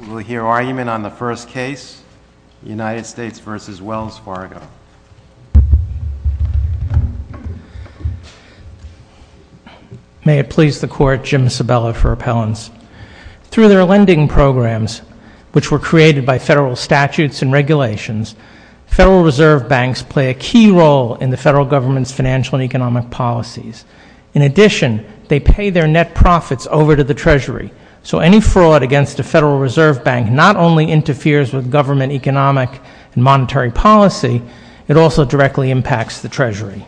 We will hear argument on the first case, United States v. Wells Fargo. May it please the Court, Jim Sabella for appellants. Through their lending programs, which were created by federal statutes and regulations, Federal Reserve Banks play a key role in the Federal Government's financial and economic policies. In addition, they pay their net profits over to the Treasury, so any fraud against a Federal Reserve Bank not only interferes with government economic and monetary policy, it also directly impacts the Treasury.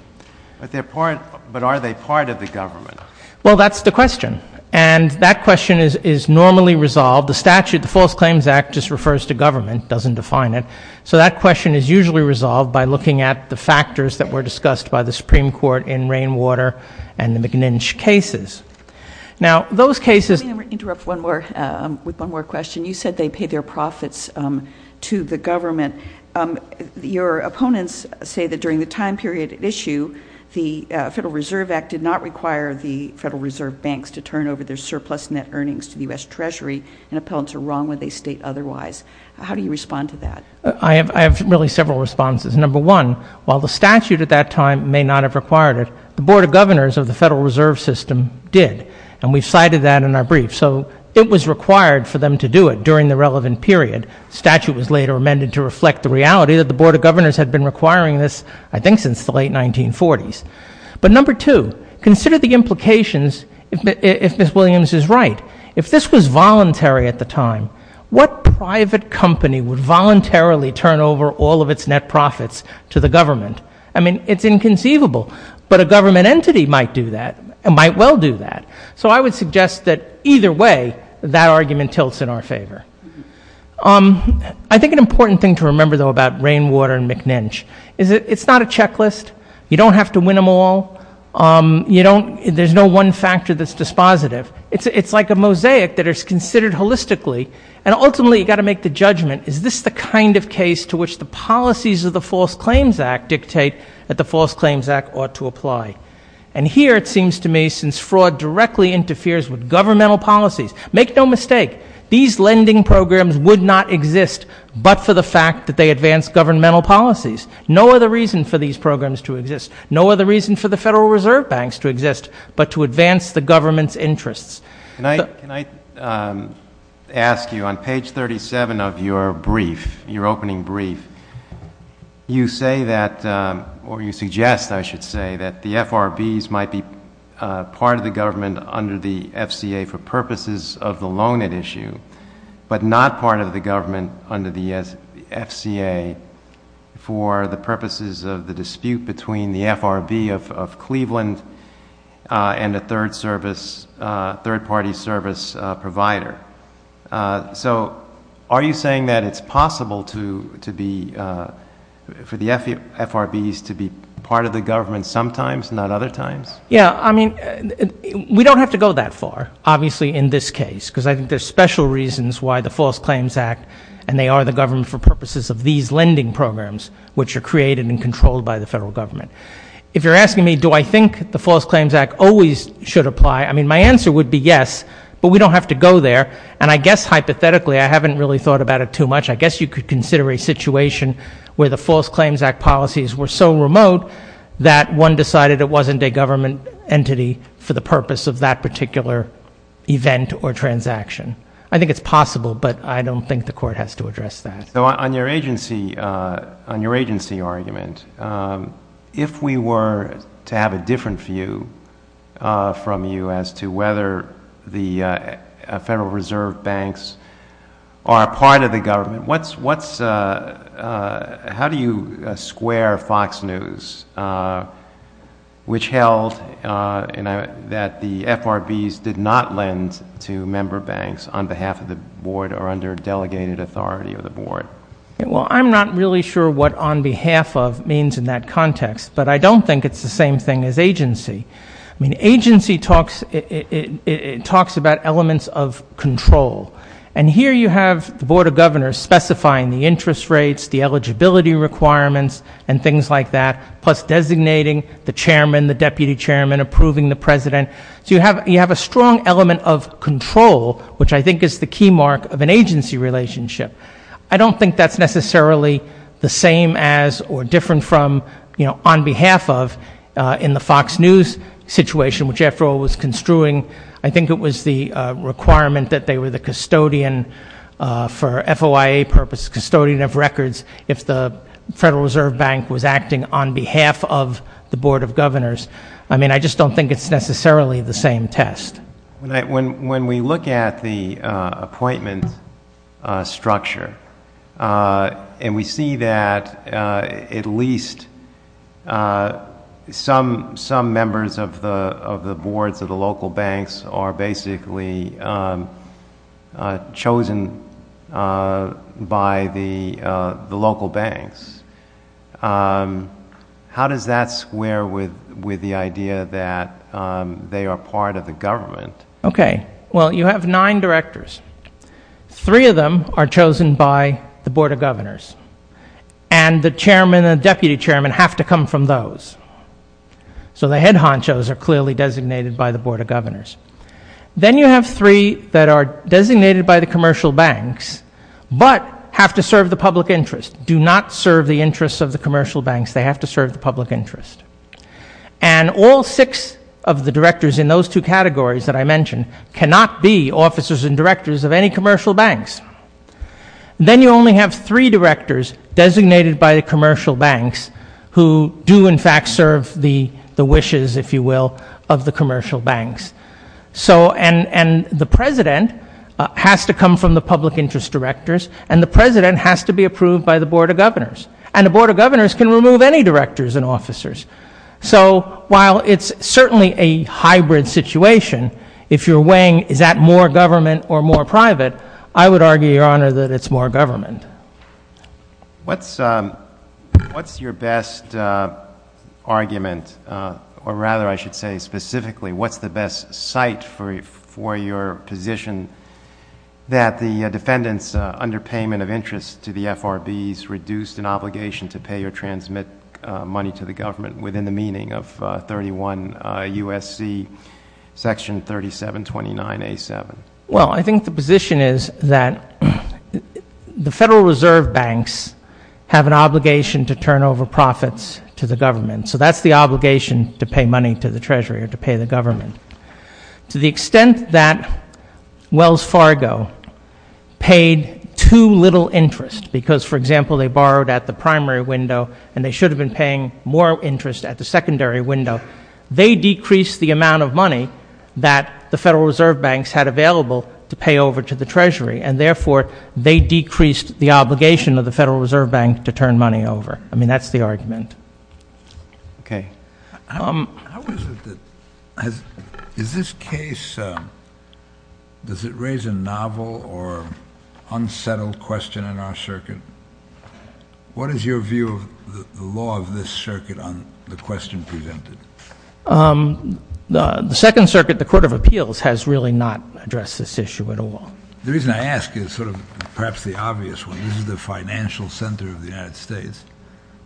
But are they part of the government? Well, that's the question, and that question is normally resolved. The statute, the False Claims Act, just refers to government, doesn't define it. So that question is usually resolved by looking at the factors that were discussed by the Supreme Court in Rainwater and the McNinch cases. Let me interrupt with one more question. You said they pay their profits to the government. Your opponents say that during the time period at issue, the Federal Reserve Act did not require the Federal Reserve Banks to turn over their surplus net earnings to the U.S. Treasury, and appellants are wrong when they state otherwise. How do you respond to that? I have really several responses. Number one, while the statute at that time may not have required it, the Board of Governors of the Federal Reserve System did, and we cited that in our brief. So it was required for them to do it during the relevant period. The statute was later amended to reflect the reality that the Board of Governors had been requiring this, I think, since the late 1940s. But number two, consider the implications if Ms. Williams is right. If this was voluntary at the time, what private company would voluntarily turn over all of its net profits to the government? I mean, it's inconceivable, but a government entity might well do that. So I would suggest that either way, that argument tilts in our favor. I think an important thing to remember, though, about Rainwater and McNinch is that it's not a checklist. You don't have to win them all. There's no one factor that's dispositive. It's like a mosaic that is considered holistically, and ultimately you've got to make the judgment, is this the kind of case to which the policies of the False Claims Act dictate that the False Claims Act ought to apply? And here it seems to me, since fraud directly interferes with governmental policies, make no mistake, these lending programs would not exist but for the fact that they advance governmental policies. No other reason for these programs to exist. No other reason for the Federal Reserve Banks to exist but to advance the government's interests. Can I ask you, on page 37 of your brief, your opening brief, you say that, or you suggest, I should say, that the FRBs might be part of the government under the FCA for purposes of the loan at issue but not part of the government under the FCA for the purposes of the dispute between the FRB of Cleveland and a third-party service provider. So are you saying that it's possible for the FRBs to be part of the government sometimes, not other times? Yeah, I mean, we don't have to go that far, obviously, in this case, because I think there's special reasons why the False Claims Act and they are the government for purposes of these lending programs, which are created and controlled by the Federal Government. If you're asking me, do I think the False Claims Act always should apply, I mean, my answer would be yes, but we don't have to go there. And I guess, hypothetically, I haven't really thought about it too much, I guess you could consider a situation where the False Claims Act policies were so remote that one decided it wasn't a government entity for the purpose of that particular event or transaction. I think it's possible, but I don't think the Court has to address that. So on your agency argument, if we were to have a different view from you as to whether the Federal Reserve banks are part of the government, how do you square Fox News, which held that the FRBs did not lend to member banks on behalf of the Board or under delegated authority of the Board? Well, I'm not really sure what on behalf of means in that context, but I don't think it's the same thing as agency. I mean, agency talks about elements of control. And here you have the Board of Governors specifying the interest rates, the eligibility requirements, and things like that, plus designating the chairman, the deputy chairman, approving the president. So you have a strong element of control, which I think is the key mark of an agency relationship. I don't think that's necessarily the same as or different from on behalf of in the Fox News situation, which, after all, was construing, I think it was the requirement that they were the custodian for FOIA purposes, custodian of records, if the Federal Reserve Bank was acting on behalf of the Board of Governors. I mean, I just don't think it's necessarily the same test. When we look at the appointment structure and we see that at least some members of the Boards of the local banks are basically chosen by the local banks, how does that square with the idea that they are part of the government? Okay, well, you have nine directors. Three of them are chosen by the Board of Governors, and the chairman and deputy chairman have to come from those. So the head honchos are clearly designated by the Board of Governors. Then you have three that are designated by the commercial banks but have to serve the public interest, do not serve the interests of the commercial banks. They have to serve the public interest. And all six of the directors in those two categories that I mentioned cannot be officers and directors of any commercial banks. Then you only have three directors designated by the commercial banks who do in fact serve the wishes, if you will, of the commercial banks. And the president has to come from the public interest directors, and the president has to be approved by the Board of Governors. And the Board of Governors can remove any directors and officers. So while it's certainly a hybrid situation, if you're weighing is that more government or more private, I would argue, Your Honor, that it's more government. What's your best argument, or rather I should say specifically, what's the best site for your position that the defendant's underpayment of interest to the FRB has reduced an obligation to pay or transmit money to the government within the meaning of 31 U.S.C. Section 3729A.7? Well, I think the position is that the Federal Reserve Banks have an obligation to turn over profits to the government. So that's the obligation to pay money to the Treasury or to pay the government. To the extent that Wells Fargo paid too little interest because, for example, they borrowed at the primary window and they should have been paying more interest at the secondary window, they decreased the amount of money that the Federal Reserve Banks had available to pay over to the Treasury. And therefore, they decreased the obligation of the Federal Reserve Bank to turn money over. I mean, that's the argument. Okay. How is it that, is this case, does it raise a novel or unsettled question in our circuit? What is your view of the law of this circuit on the question presented? The Second Circuit, the Court of Appeals, has really not addressed this issue at all. The reason I ask is sort of perhaps the obvious one. This is the financial center of the United States.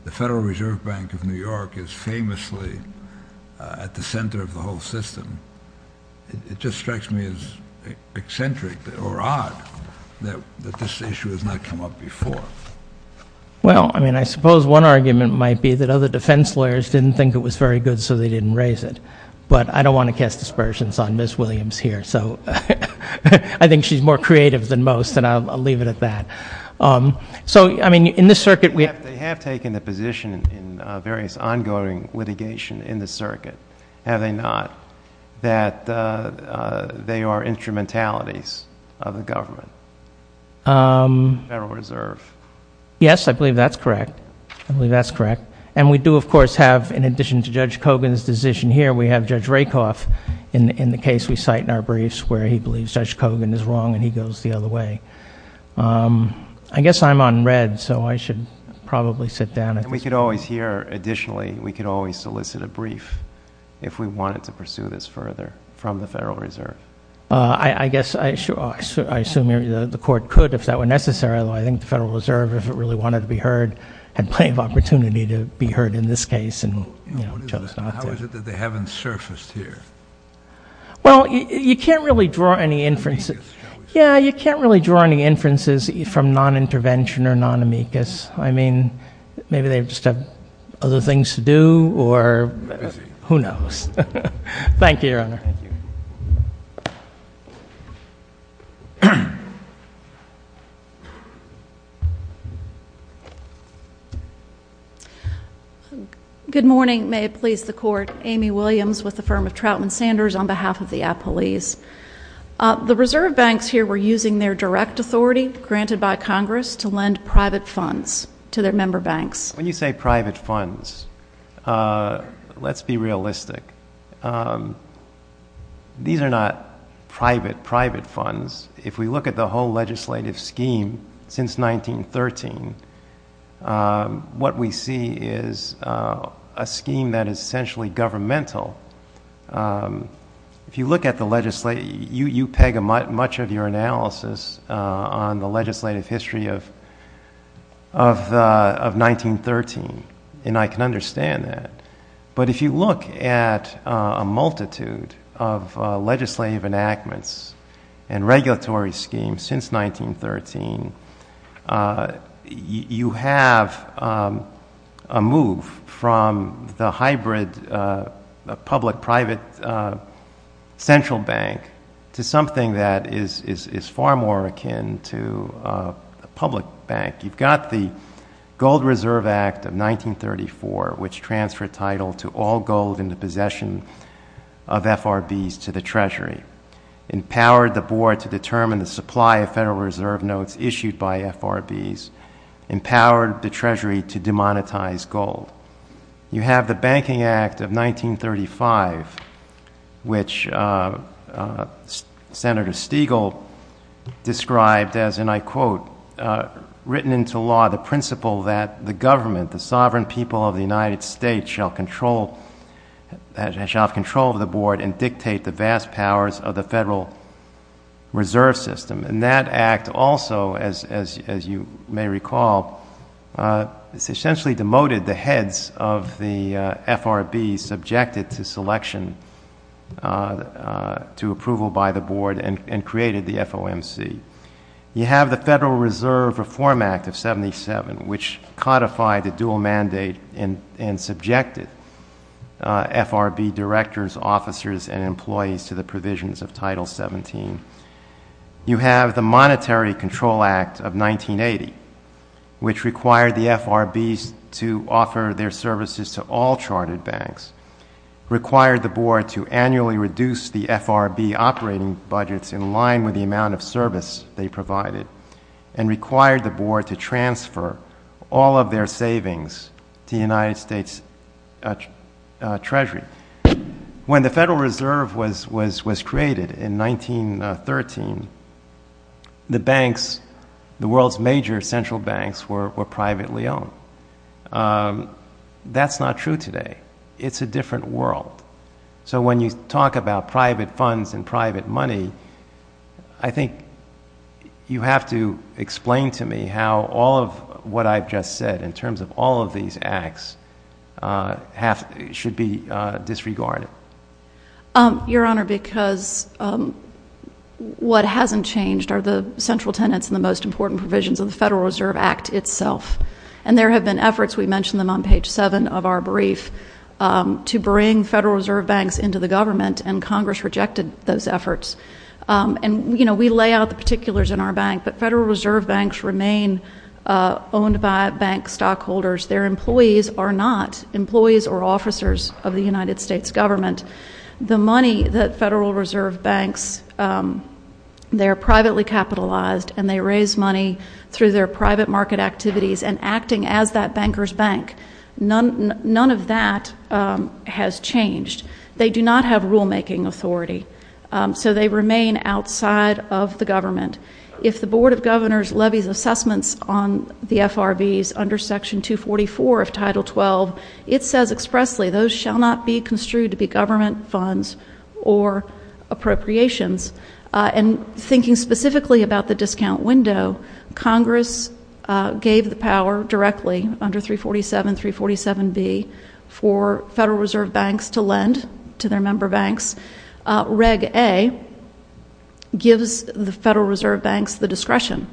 The Federal Reserve Bank of New York is famously at the center of the whole system. It just strikes me as eccentric or odd that this issue has not come up before. Well, I mean, I suppose one argument might be that other defense lawyers didn't think it was very good, so they didn't raise it. But I don't want to cast aspersions on Ms. Williams here. So I think she's more creative than most, and I'll leave it at that. So, I mean, in this circuit, we have— Have they not, that they are instrumentalities of the government, the Federal Reserve? Yes, I believe that's correct. I believe that's correct. And we do, of course, have, in addition to Judge Kogan's decision here, we have Judge Rakoff in the case we cite in our briefs, where he believes Judge Kogan is wrong and he goes the other way. I guess I'm on read, so I should probably sit down. And we could always hear—additionally, we could always solicit a brief if we wanted to pursue this further from the Federal Reserve. I guess—I assume the Court could if that were necessary, although I think the Federal Reserve, if it really wanted to be heard, had plenty of opportunity to be heard in this case and chose not to. How is it that they haven't surfaced here? Well, you can't really draw any inferences— Amicus, shall we say? Yeah, you can't really draw any inferences from non-intervention or non-amicus. I mean, maybe they just have other things to do or who knows. Thank you, Your Honor. Thank you. Good morning. May it please the Court. Amy Williams with the firm of Troutman Sanders on behalf of the appellees. The reserve banks here were using their direct authority granted by Congress to lend private funds to their member banks. When you say private funds, let's be realistic. These are not private, private funds. If we look at the whole legislative scheme since 1913, what we see is a scheme that is essentially governmental. If you look at the legislative—you peg much of your analysis on the legislative history of 1913, and I can understand that. But if you look at a multitude of legislative enactments and regulatory schemes since 1913, you have a move from the hybrid public-private central bank to something that is far more akin to a public bank. You've got the Gold Reserve Act of 1934, which transferred title to all gold in the possession of FRBs to the Treasury, empowered the board to determine the supply of Federal Reserve notes issued by FRBs, empowered the Treasury to demonetize gold. You have the Banking Act of 1935, which Senator Stegall described as, and I quote, written into law the principle that the government, the sovereign people of the United States, shall have control of the board and dictate the vast powers of the Federal Reserve System. And that act also, as you may recall, essentially demoted the heads of the FRBs subjected to selection, to approval by the board, and created the FOMC. You have the Federal Reserve Reform Act of 1977, which codified the dual mandate and subjected FRB directors, officers, and employees to the provisions of Title 17. You have the Monetary Control Act of 1980, which required the FRBs to offer their services to all chartered banks, required the board to annually reduce the FRB operating budgets in line with the amount of service they provided, and required the board to transfer all of their savings to the United States Treasury. When the Federal Reserve was created in 1913, the banks, the world's major central banks, were privately owned. That's not true today. It's a different world. So when you talk about private funds and private money, I think you have to explain to me how all of what I've just said, in terms of all of these acts, should be disregarded. Your Honor, because what hasn't changed are the central tenets and the most important provisions of the Federal Reserve Act itself. And there have been efforts, we mentioned them on page 7 of our brief, to bring Federal Reserve banks into the government, and Congress rejected those efforts. And, you know, we lay out the particulars in our bank, but Federal Reserve banks remain owned by bank stockholders. Their employees are not employees or officers of the United States government. The money that Federal Reserve banks, they're privately capitalized, and they raise money through their private market activities and acting as that banker's bank. None of that has changed. They do not have rulemaking authority, so they remain outside of the government. If the Board of Governors levies assessments on the FRBs under Section 244 of Title 12, it says expressly, those shall not be construed to be government funds or appropriations. And thinking specifically about the discount window, Congress gave the power directly under 347, 347B, for Federal Reserve banks to lend to their member banks. Reg A gives the Federal Reserve banks the discretion.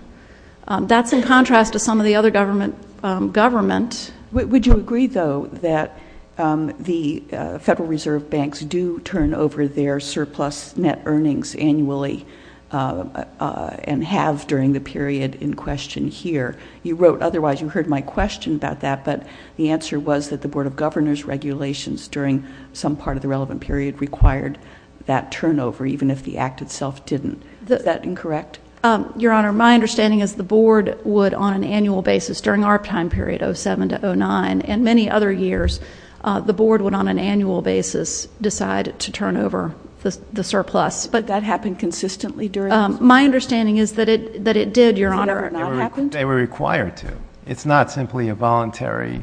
That's in contrast to some of the other government. Would you agree, though, that the Federal Reserve banks do turn over their surplus net earnings annually and have during the period in question here? You wrote otherwise. You heard my question about that, but the answer was that the Board of Governors regulations during some part of the relevant period required that turnover, even if the Act itself didn't. Is that incorrect? Your Honor, my understanding is the Board would on an annual basis during our time period, 07 to 09, and many other years, the Board would on an annual basis decide to turn over the surplus. But that happened consistently during this period? My understanding is that it did, Your Honor. Did it not happen? They were required to. It's not simply a voluntary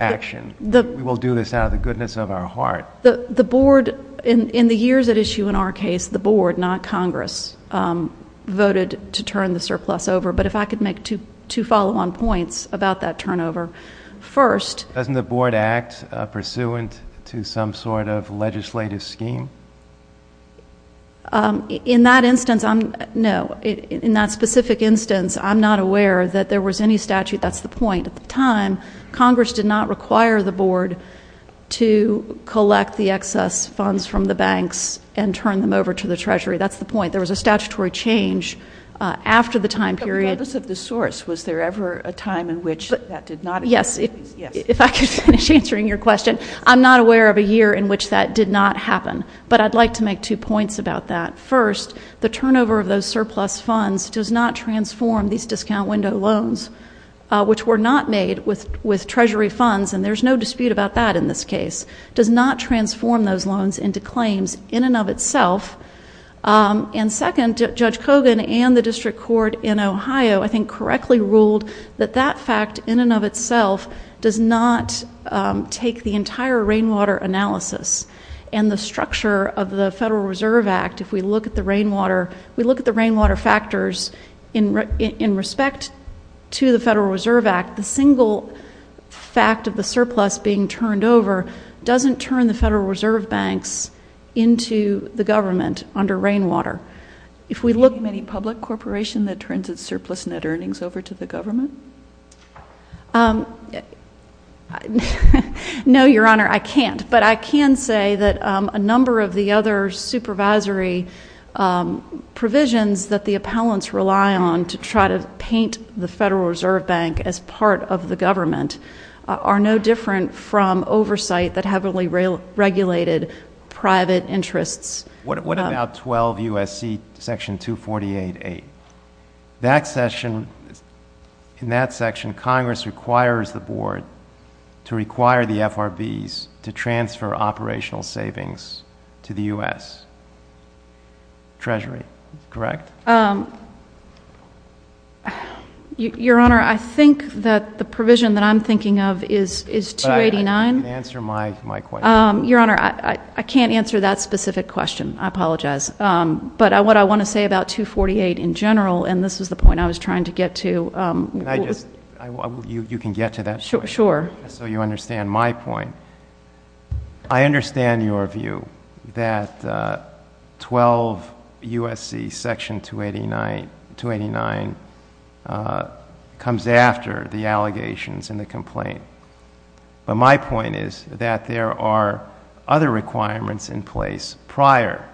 action. We will do this out of the goodness of our heart. The Board, in the years at issue in our case, the Board, not Congress, voted to turn the surplus over. But if I could make two follow-on points about that turnover. Doesn't the Board act pursuant to some sort of legislative scheme? In that instance, no. In that specific instance, I'm not aware that there was any statute. That's the point. At the time, Congress did not require the Board to collect the excess funds from the banks and turn them over to the Treasury. That's the point. There was a statutory change after the time period. In the purpose of this source, was there ever a time in which that did not occur? Yes. If I could finish answering your question, I'm not aware of a year in which that did not happen. But I'd like to make two points about that. First, the turnover of those surplus funds does not transform these discount window loans, which were not made with Treasury funds, and there's no dispute about that in this case. It does not transform those loans into claims in and of itself. Second, Judge Kogan and the District Court in Ohio, I think, correctly ruled that that fact in and of itself does not take the entire rainwater analysis and the structure of the Federal Reserve Act. If we look at the rainwater factors in respect to the Federal Reserve Act, the single fact of the surplus being turned over doesn't turn the Federal Reserve Banks into the government under rainwater. If we look at any public corporation that turns its surplus net earnings over to the government? No, Your Honor, I can't. But I can say that a number of the other supervisory provisions that the appellants rely on to try to paint the Federal Reserve Bank as part of the government are no different from oversight that heavily regulated private interests. What about 12 U.S.C. Section 248.8? In that section, Congress requires the Board to require the FRBs to transfer operational savings to the U.S. Treasury, correct? Your Honor, I think that the provision that I'm thinking of is 289. Answer my question. Your Honor, I can't answer that specific question. I apologize. But what I want to say about 248 in general, and this is the point I was trying to get to. Can I just? You can get to that point. Sure. So you understand my point. I understand your view that 12 U.S.C. Section 289 comes after the allegations in the complaint. But my point is that there are other requirements in place prior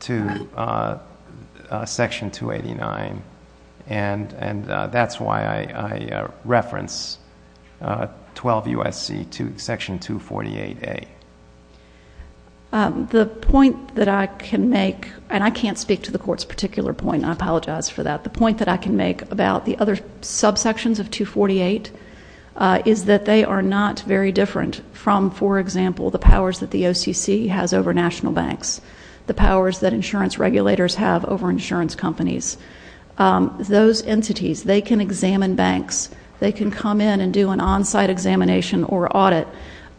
to Section 289, and that's why I reference 12 U.S.C. Section 248.8. The point that I can make, and I can't speak to the Court's particular point, and I apologize for that. The point that I can make about the other subsections of 248 is that they are not very different from, for example, the powers that the OCC has over national banks, the powers that insurance regulators have over insurance companies. Those entities, they can examine banks. They can come in and do an on-site examination or audit.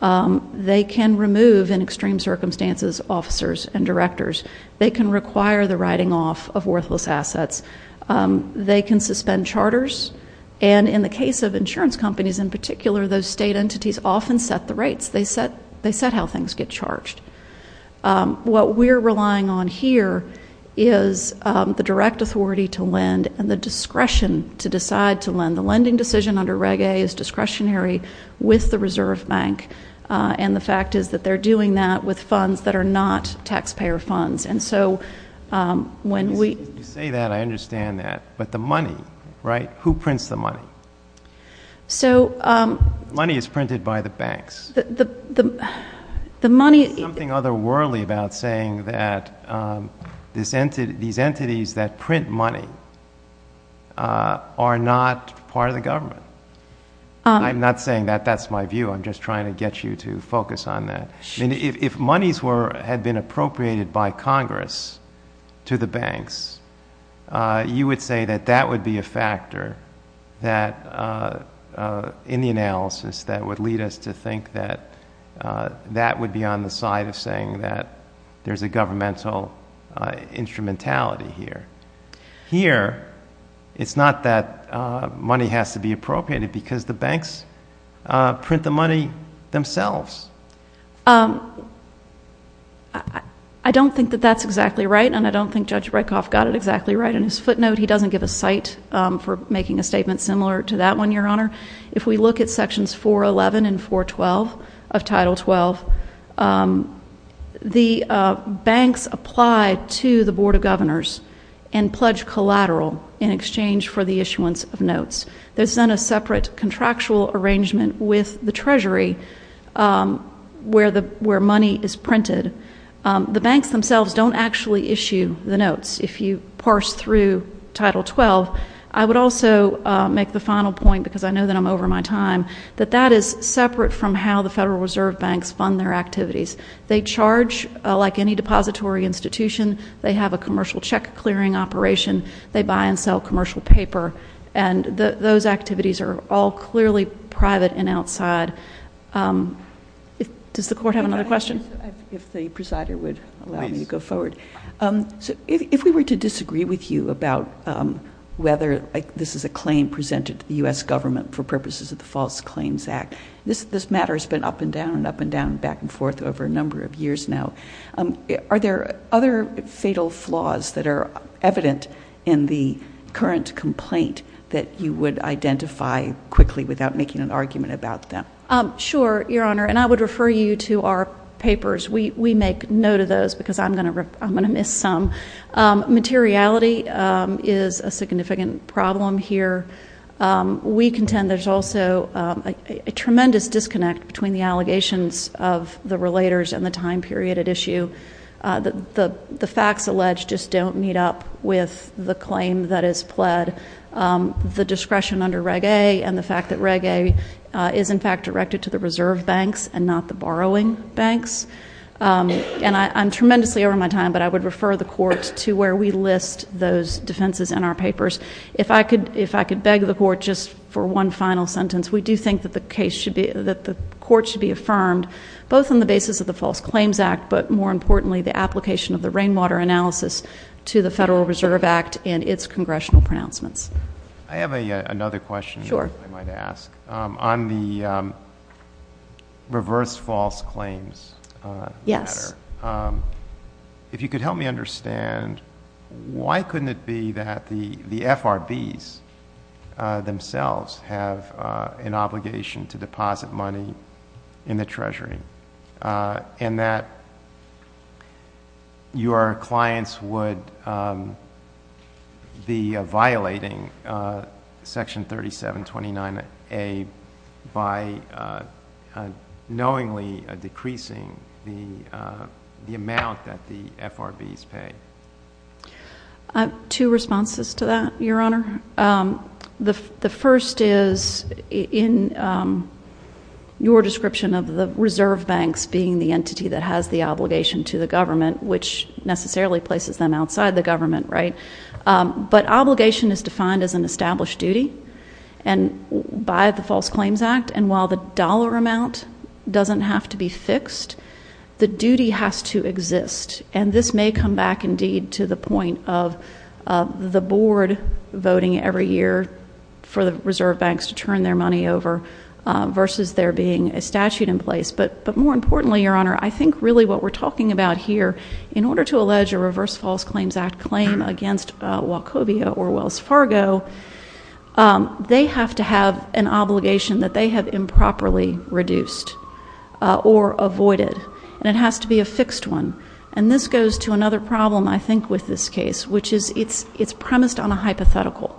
They can remove, in extreme circumstances, officers and directors. They can require the writing off of worthless assets. They can suspend charters. And in the case of insurance companies in particular, those state entities often set the rates. They set how things get charged. What we're relying on here is the direct authority to lend and the discretion to decide to lend. The lending decision under Reg A is discretionary with the Reserve Bank, and the fact is that they're doing that with funds that are not taxpayer funds. And so when we ---- You say that. I understand that. But the money, right, who prints the money? So ---- Money is printed by the banks. The money ---- There's something otherworldly about saying that these entities that print money are not part of the government. I'm not saying that. That's my view. I'm just trying to get you to focus on that. If monies had been appropriated by Congress to the banks, you would say that that would be a factor that, in the analysis, that would lead us to think that that would be on the side of saying that there's a governmental instrumentality here. Here, it's not that money has to be appropriated because the banks print the money themselves. I don't think that that's exactly right, and I don't think Judge Brekhoff got it exactly right in his footnote. He doesn't give a cite for making a statement similar to that one, Your Honor. If we look at Sections 411 and 412 of Title 12, the banks apply to the Board of Governors and pledge collateral in exchange for the issuance of notes. There's then a separate contractual arrangement with the Treasury where money is printed. The banks themselves don't actually issue the notes. If you parse through Title 12, I would also make the final point, because I know that I'm over my time, that that is separate from how the Federal Reserve banks fund their activities. They charge like any depository institution. They have a commercial check-clearing operation. They buy and sell commercial paper, and those activities are all clearly private and outside. Does the Court have another question? If the presider would allow me to go forward. If we were to disagree with you about whether this is a claim presented to the U.S. government for purposes of the False Claims Act, this matter has been up and down and up and down and back and forth over a number of years now. Are there other fatal flaws that are evident in the current complaint that you would identify quickly without making an argument about them? Sure, Your Honor, and I would refer you to our papers. We make note of those because I'm going to miss some. Materiality is a significant problem here. We contend there's also a tremendous disconnect between the allegations of the relators and the time period at issue. The facts alleged just don't meet up with the claim that is pled. The discretion under Reg A and the fact that Reg A is, in fact, directed to the reserve banks and not the borrowing banks. And I'm tremendously over my time, but I would refer the Court to where we list those defenses in our papers. If I could beg the Court just for one final sentence, we do think that the Court should be affirmed both on the basis of the False Claims Act, but more importantly, the application of the Rainwater Analysis to the Federal Reserve Act and its congressional pronouncements. I have another question that I might ask. On the reverse false claims matter, if you could help me understand, why couldn't it be that the FRBs themselves have an obligation to deposit money in the Treasury and that your clients would be violating Section 3729A by knowingly decreasing the amount that the FRBs pay? I have two responses to that, Your Honor. The first is in your description of the reserve banks being the entity that has the obligation to the government, which necessarily places them outside the government, right? But obligation is defined as an established duty by the False Claims Act, and while the dollar amount doesn't have to be fixed, the duty has to exist. And this may come back, indeed, to the point of the Board voting every year for the reserve banks to turn their money over versus there being a statute in place. But more importantly, Your Honor, I think really what we're talking about here, in order to allege a reverse false claims act claim against Wachovia or Wells Fargo, they have to have an obligation that they have improperly reduced or avoided, and it has to be a fixed one. And this goes to another problem, I think, with this case, which is it's premised on a hypothetical.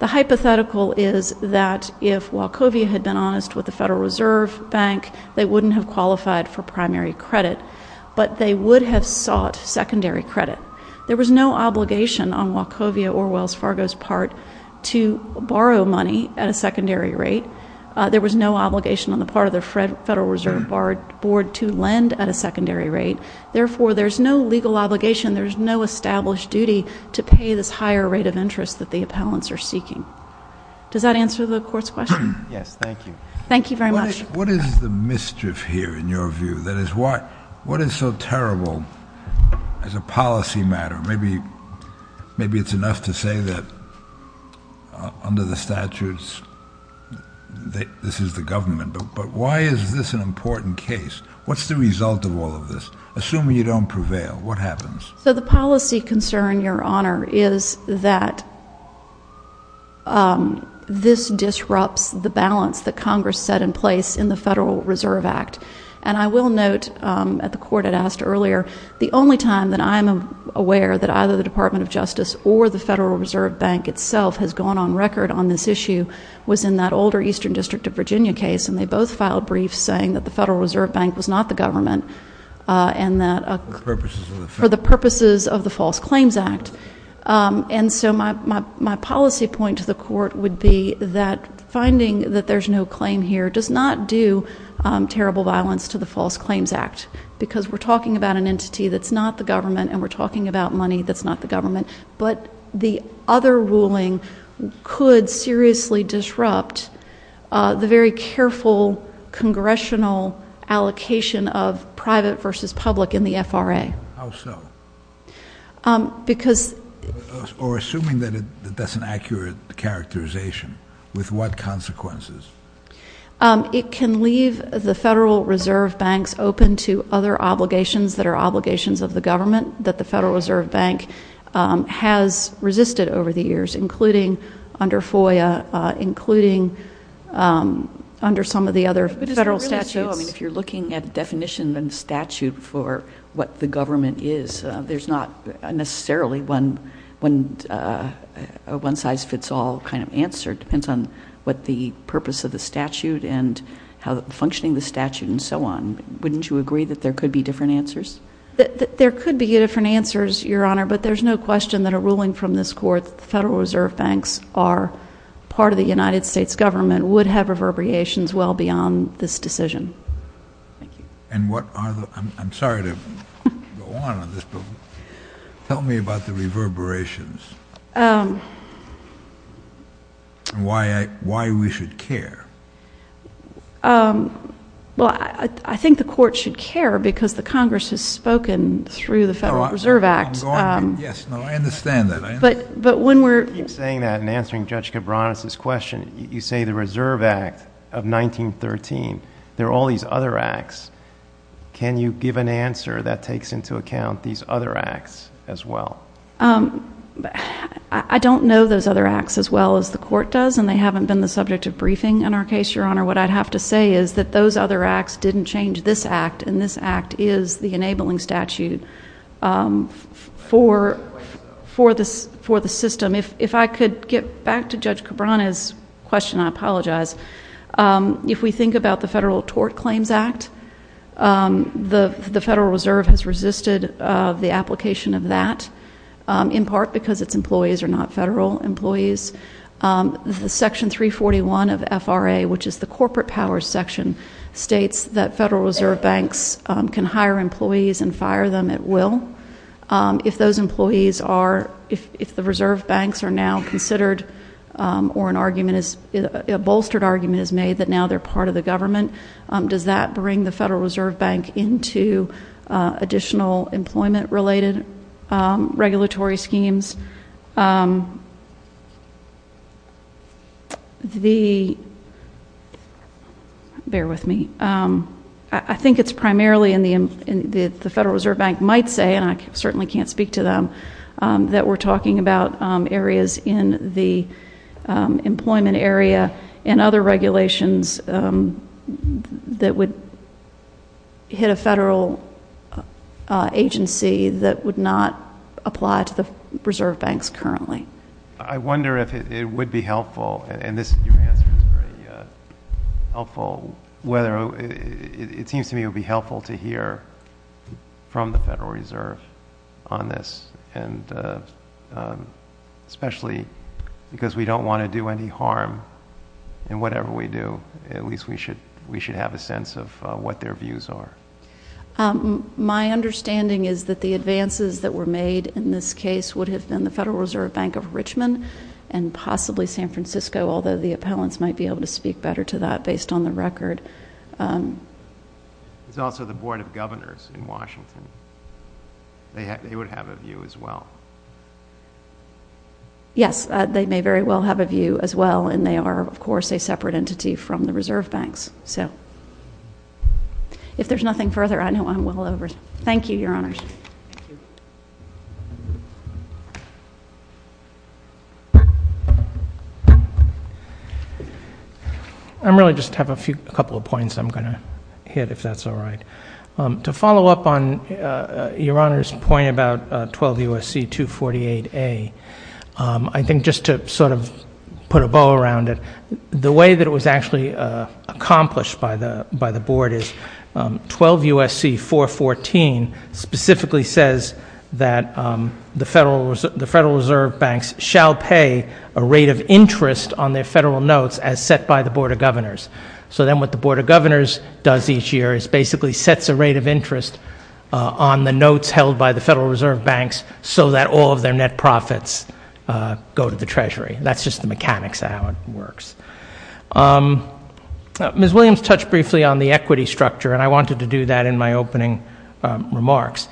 The hypothetical is that if Wachovia had been honest with the Federal Reserve Bank, they wouldn't have qualified for primary credit, but they would have sought secondary credit. There was no obligation on Wachovia or Wells Fargo's part to borrow money at a secondary rate. There was no obligation on the part of the Federal Reserve Board to lend at a secondary rate. Therefore, there's no legal obligation, there's no established duty to pay this higher rate of interest that the appellants are seeking. Does that answer the Court's question? Yes, thank you. Thank you very much. What is the mischief here, in your view? That is, what is so terrible as a policy matter? Maybe it's enough to say that under the statutes, this is the government, but why is this an important case? What's the result of all of this? Assuming you don't prevail, what happens? So the policy concern, Your Honor, is that this disrupts the balance that Congress set in place in the Federal Reserve Act. And I will note that the Court had asked earlier, the only time that I'm aware that either the Department of Justice or the Federal Reserve Bank itself has gone on record on this issue was in that older Eastern District of Virginia case, and they both filed briefs saying that the Federal Reserve Bank was not the government for the purposes of the False Claims Act. And so my policy point to the Court would be that finding that there's no claim here does not do terrible violence to the False Claims Act, because we're talking about an entity that's not the government, and we're talking about money that's not the government. But the other ruling could seriously disrupt the very careful congressional allocation of private versus public in the FRA. How so? Because... Or assuming that that's an accurate characterization, with what consequences? It can leave the Federal Reserve Banks open to other obligations that are obligations of the government that the Federal Reserve Bank has resisted over the years, including under FOIA, including under some of the other federal statutes. No, I mean, if you're looking at definition and statute for what the government is, there's not necessarily a one-size-fits-all kind of answer. It depends on what the purpose of the statute and how functioning the statute and so on. Wouldn't you agree that there could be different answers? There could be different answers, Your Honor, but there's no question that a ruling from this Court that the Federal Reserve Banks are part of the United States government would have reverberations well beyond this decision. Thank you. And what are the... I'm sorry to go on on this, but tell me about the reverberations and why we should care. Well, I think the Court should care because the Congress has spoken through the Federal Reserve Act. I'm going to. Yes, no, I understand that. But when we're... You keep saying that and answering Judge Cabranes' question. You say the Reserve Act of 1913. There are all these other acts. Can you give an answer that takes into account these other acts as well? I don't know those other acts as well as the Court does, and they haven't been the subject of briefing in our case, Your Honor. What I'd have to say is that those other acts didn't change this act, and this act is the enabling statute for the system. If I could get back to Judge Cabranes' question, I apologize. If we think about the Federal Tort Claims Act, the Federal Reserve has resisted the application of that, in part because its employees are not federal employees. Section 341 of FRA, which is the corporate power section, states that Federal Reserve banks can hire employees and fire them at will. If those employees are, if the Reserve banks are now considered or an argument is, a bolstered argument is made that now they're part of the government, does that bring the Federal Reserve Bank into additional employment-related regulatory schemes? The, bear with me. I think it's primarily in the Federal Reserve Bank might say, and I certainly can't speak to them, that we're talking about areas in the employment area and other regulations that would hit a federal agency that would not apply to the Reserve banks currently. I wonder if it would be helpful, and your answer is very helpful, whether it seems to me it would be helpful to hear from the Federal Reserve on this, and especially because we don't want to do any harm in whatever we do. At least we should have a sense of what their views are. My understanding is that the advances that were made in this case would have been the Federal Reserve Bank of Richmond and possibly San Francisco, although the appellants might be able to speak better to that based on the record. It's also the Board of Governors in Washington. They would have a view as well. Yes, they may very well have a view as well, and they are, of course, a separate entity from the Reserve banks. So, if there's nothing further, I know I'm well over. Thank you, Your Honors. Thank you. I really just have a couple of points I'm going to hit, if that's all right. To follow up on Your Honor's point about 12 U.S.C. 248A, I think just to sort of put a bow around it, the way that it was actually accomplished by the Board is 12 U.S.C. 414 specifically says that the Federal Reserve banks shall pay a rate of interest on their Federal notes as set by the Board of Governors. So then what the Board of Governors does each year is basically sets a rate of interest on the notes held by the Federal Reserve banks so that all of their net profits go to the Treasury. That's just the mechanics of how it works. Ms. Williams touched briefly on the equity structure, and I wanted to do that in my opening remarks.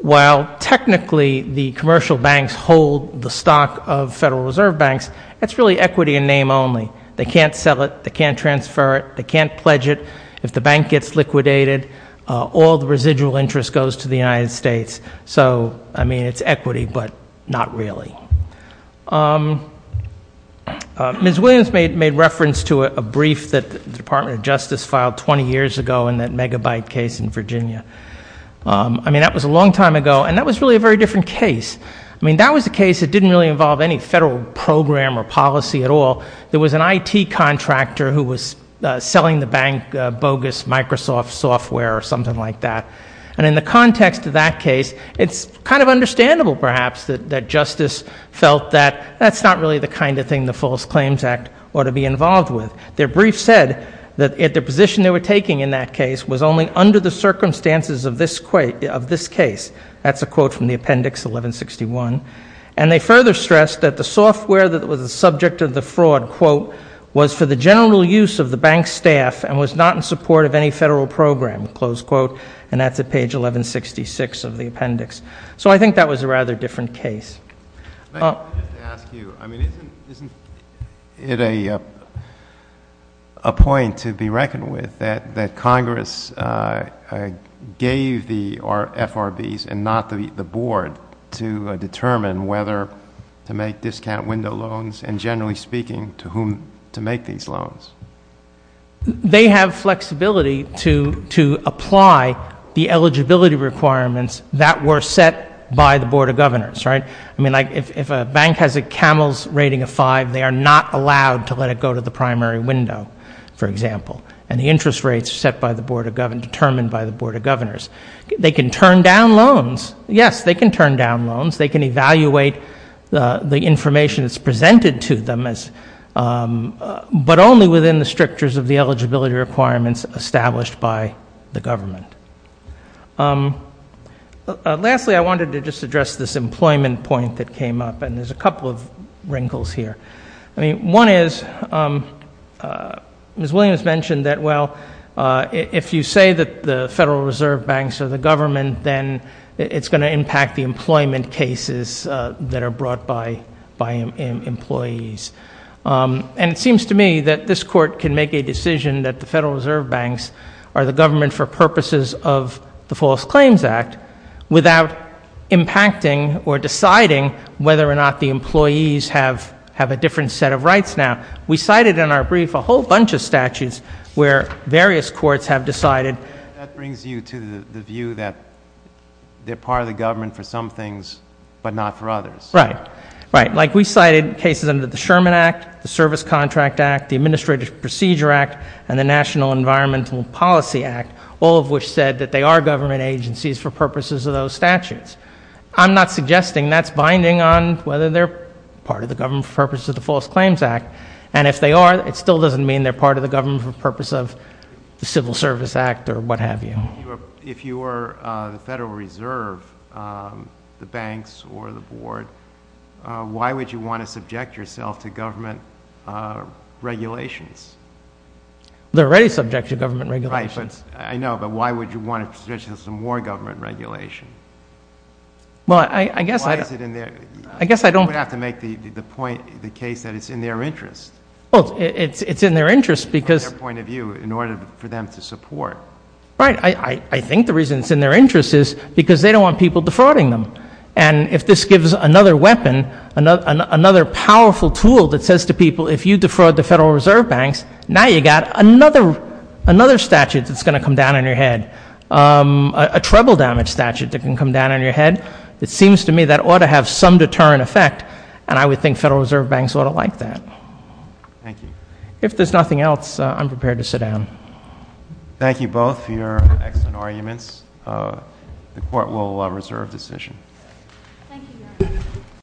While technically the commercial banks hold the stock of Federal Reserve banks, that's really equity in name only. They can't sell it. They can't transfer it. They can't pledge it. If the bank gets liquidated, all the residual interest goes to the United States. So, I mean, it's equity, but not really. Ms. Williams made reference to a brief that the Department of Justice filed 20 years ago in that megabyte case in Virginia. I mean, that was a long time ago, and that was really a very different case. I mean, that was a case that didn't really involve any Federal program or policy at all. There was an IT contractor who was selling the bank bogus Microsoft software or something like that. And in the context of that case, it's kind of understandable, perhaps, that Justice felt that that's not really the kind of thing the False Claims Act ought to be involved with. Their brief said that the position they were taking in that case was only under the circumstances of this case. That's a quote from the appendix 1161. And they further stressed that the software that was the subject of the fraud, quote, was for the general use of the bank staff and was not in support of any Federal program, close quote. And that's at page 1166 of the appendix. So I think that was a rather different case. Just to ask you, I mean, isn't it a point to be reckoned with that Congress gave the FRBs and not the Board to determine whether to make discount window loans and, generally speaking, to whom to make these loans? They have flexibility to apply the eligibility requirements that were set by the Board of Governors, right? I mean, if a bank has a Camels rating of 5, they are not allowed to let it go to the primary window, for example. And the interest rates are set by the Board of Governors, determined by the Board of Governors. They can turn down loans. Yes, they can turn down loans. They can evaluate the information that's presented to them, but only within the strictures of the eligibility requirements established by the government. Lastly, I wanted to just address this employment point that came up, and there's a couple of wrinkles here. I mean, one is, Ms. Williams mentioned that, well, if you say that the Federal Reserve Banks are the government, then it's going to impact the employment cases that are brought by employees. And it seems to me that this Court can make a decision that the Federal Reserve Banks are the government for purposes of the False Claims Act without impacting or deciding whether or not the employees have a different set of rights now. We cited in our brief a whole bunch of statutes where various courts have decided. That brings you to the view that they're part of the government for some things, but not for others. Right, right. Like we cited cases under the Sherman Act, the Service Contract Act, the Administrative Procedure Act, and the National Environmental Policy Act, all of which said that they are government agencies for purposes of those statutes. I'm not suggesting that's binding on whether they're part of the government for purposes of the False Claims Act. And if they are, it still doesn't mean they're part of the government for the purpose of the Civil Service Act or what have you. If you were the Federal Reserve, the banks or the board, why would you want to subject yourself to government regulations? They're already subject to government regulations. Right, I know, but why would you want to subject yourself to more government regulation? Well, I guess I don't- Why is it in their- I guess I don't- You would have to make the case that it's in their interest. Well, it's in their interest because- From their point of view in order for them to support. Right, I think the reason it's in their interest is because they don't want people defrauding them. And if this gives another weapon, another powerful tool that says to people, if you defraud the Federal Reserve banks, now you've got another statute that's going to come down on your head, a treble damage statute that can come down on your head. It seems to me that ought to have some deterrent effect, and I would think Federal Reserve banks ought to like that. Thank you. If there's nothing else, I'm prepared to sit down. Thank you both for your excellent arguments. Thank you, Your Honor.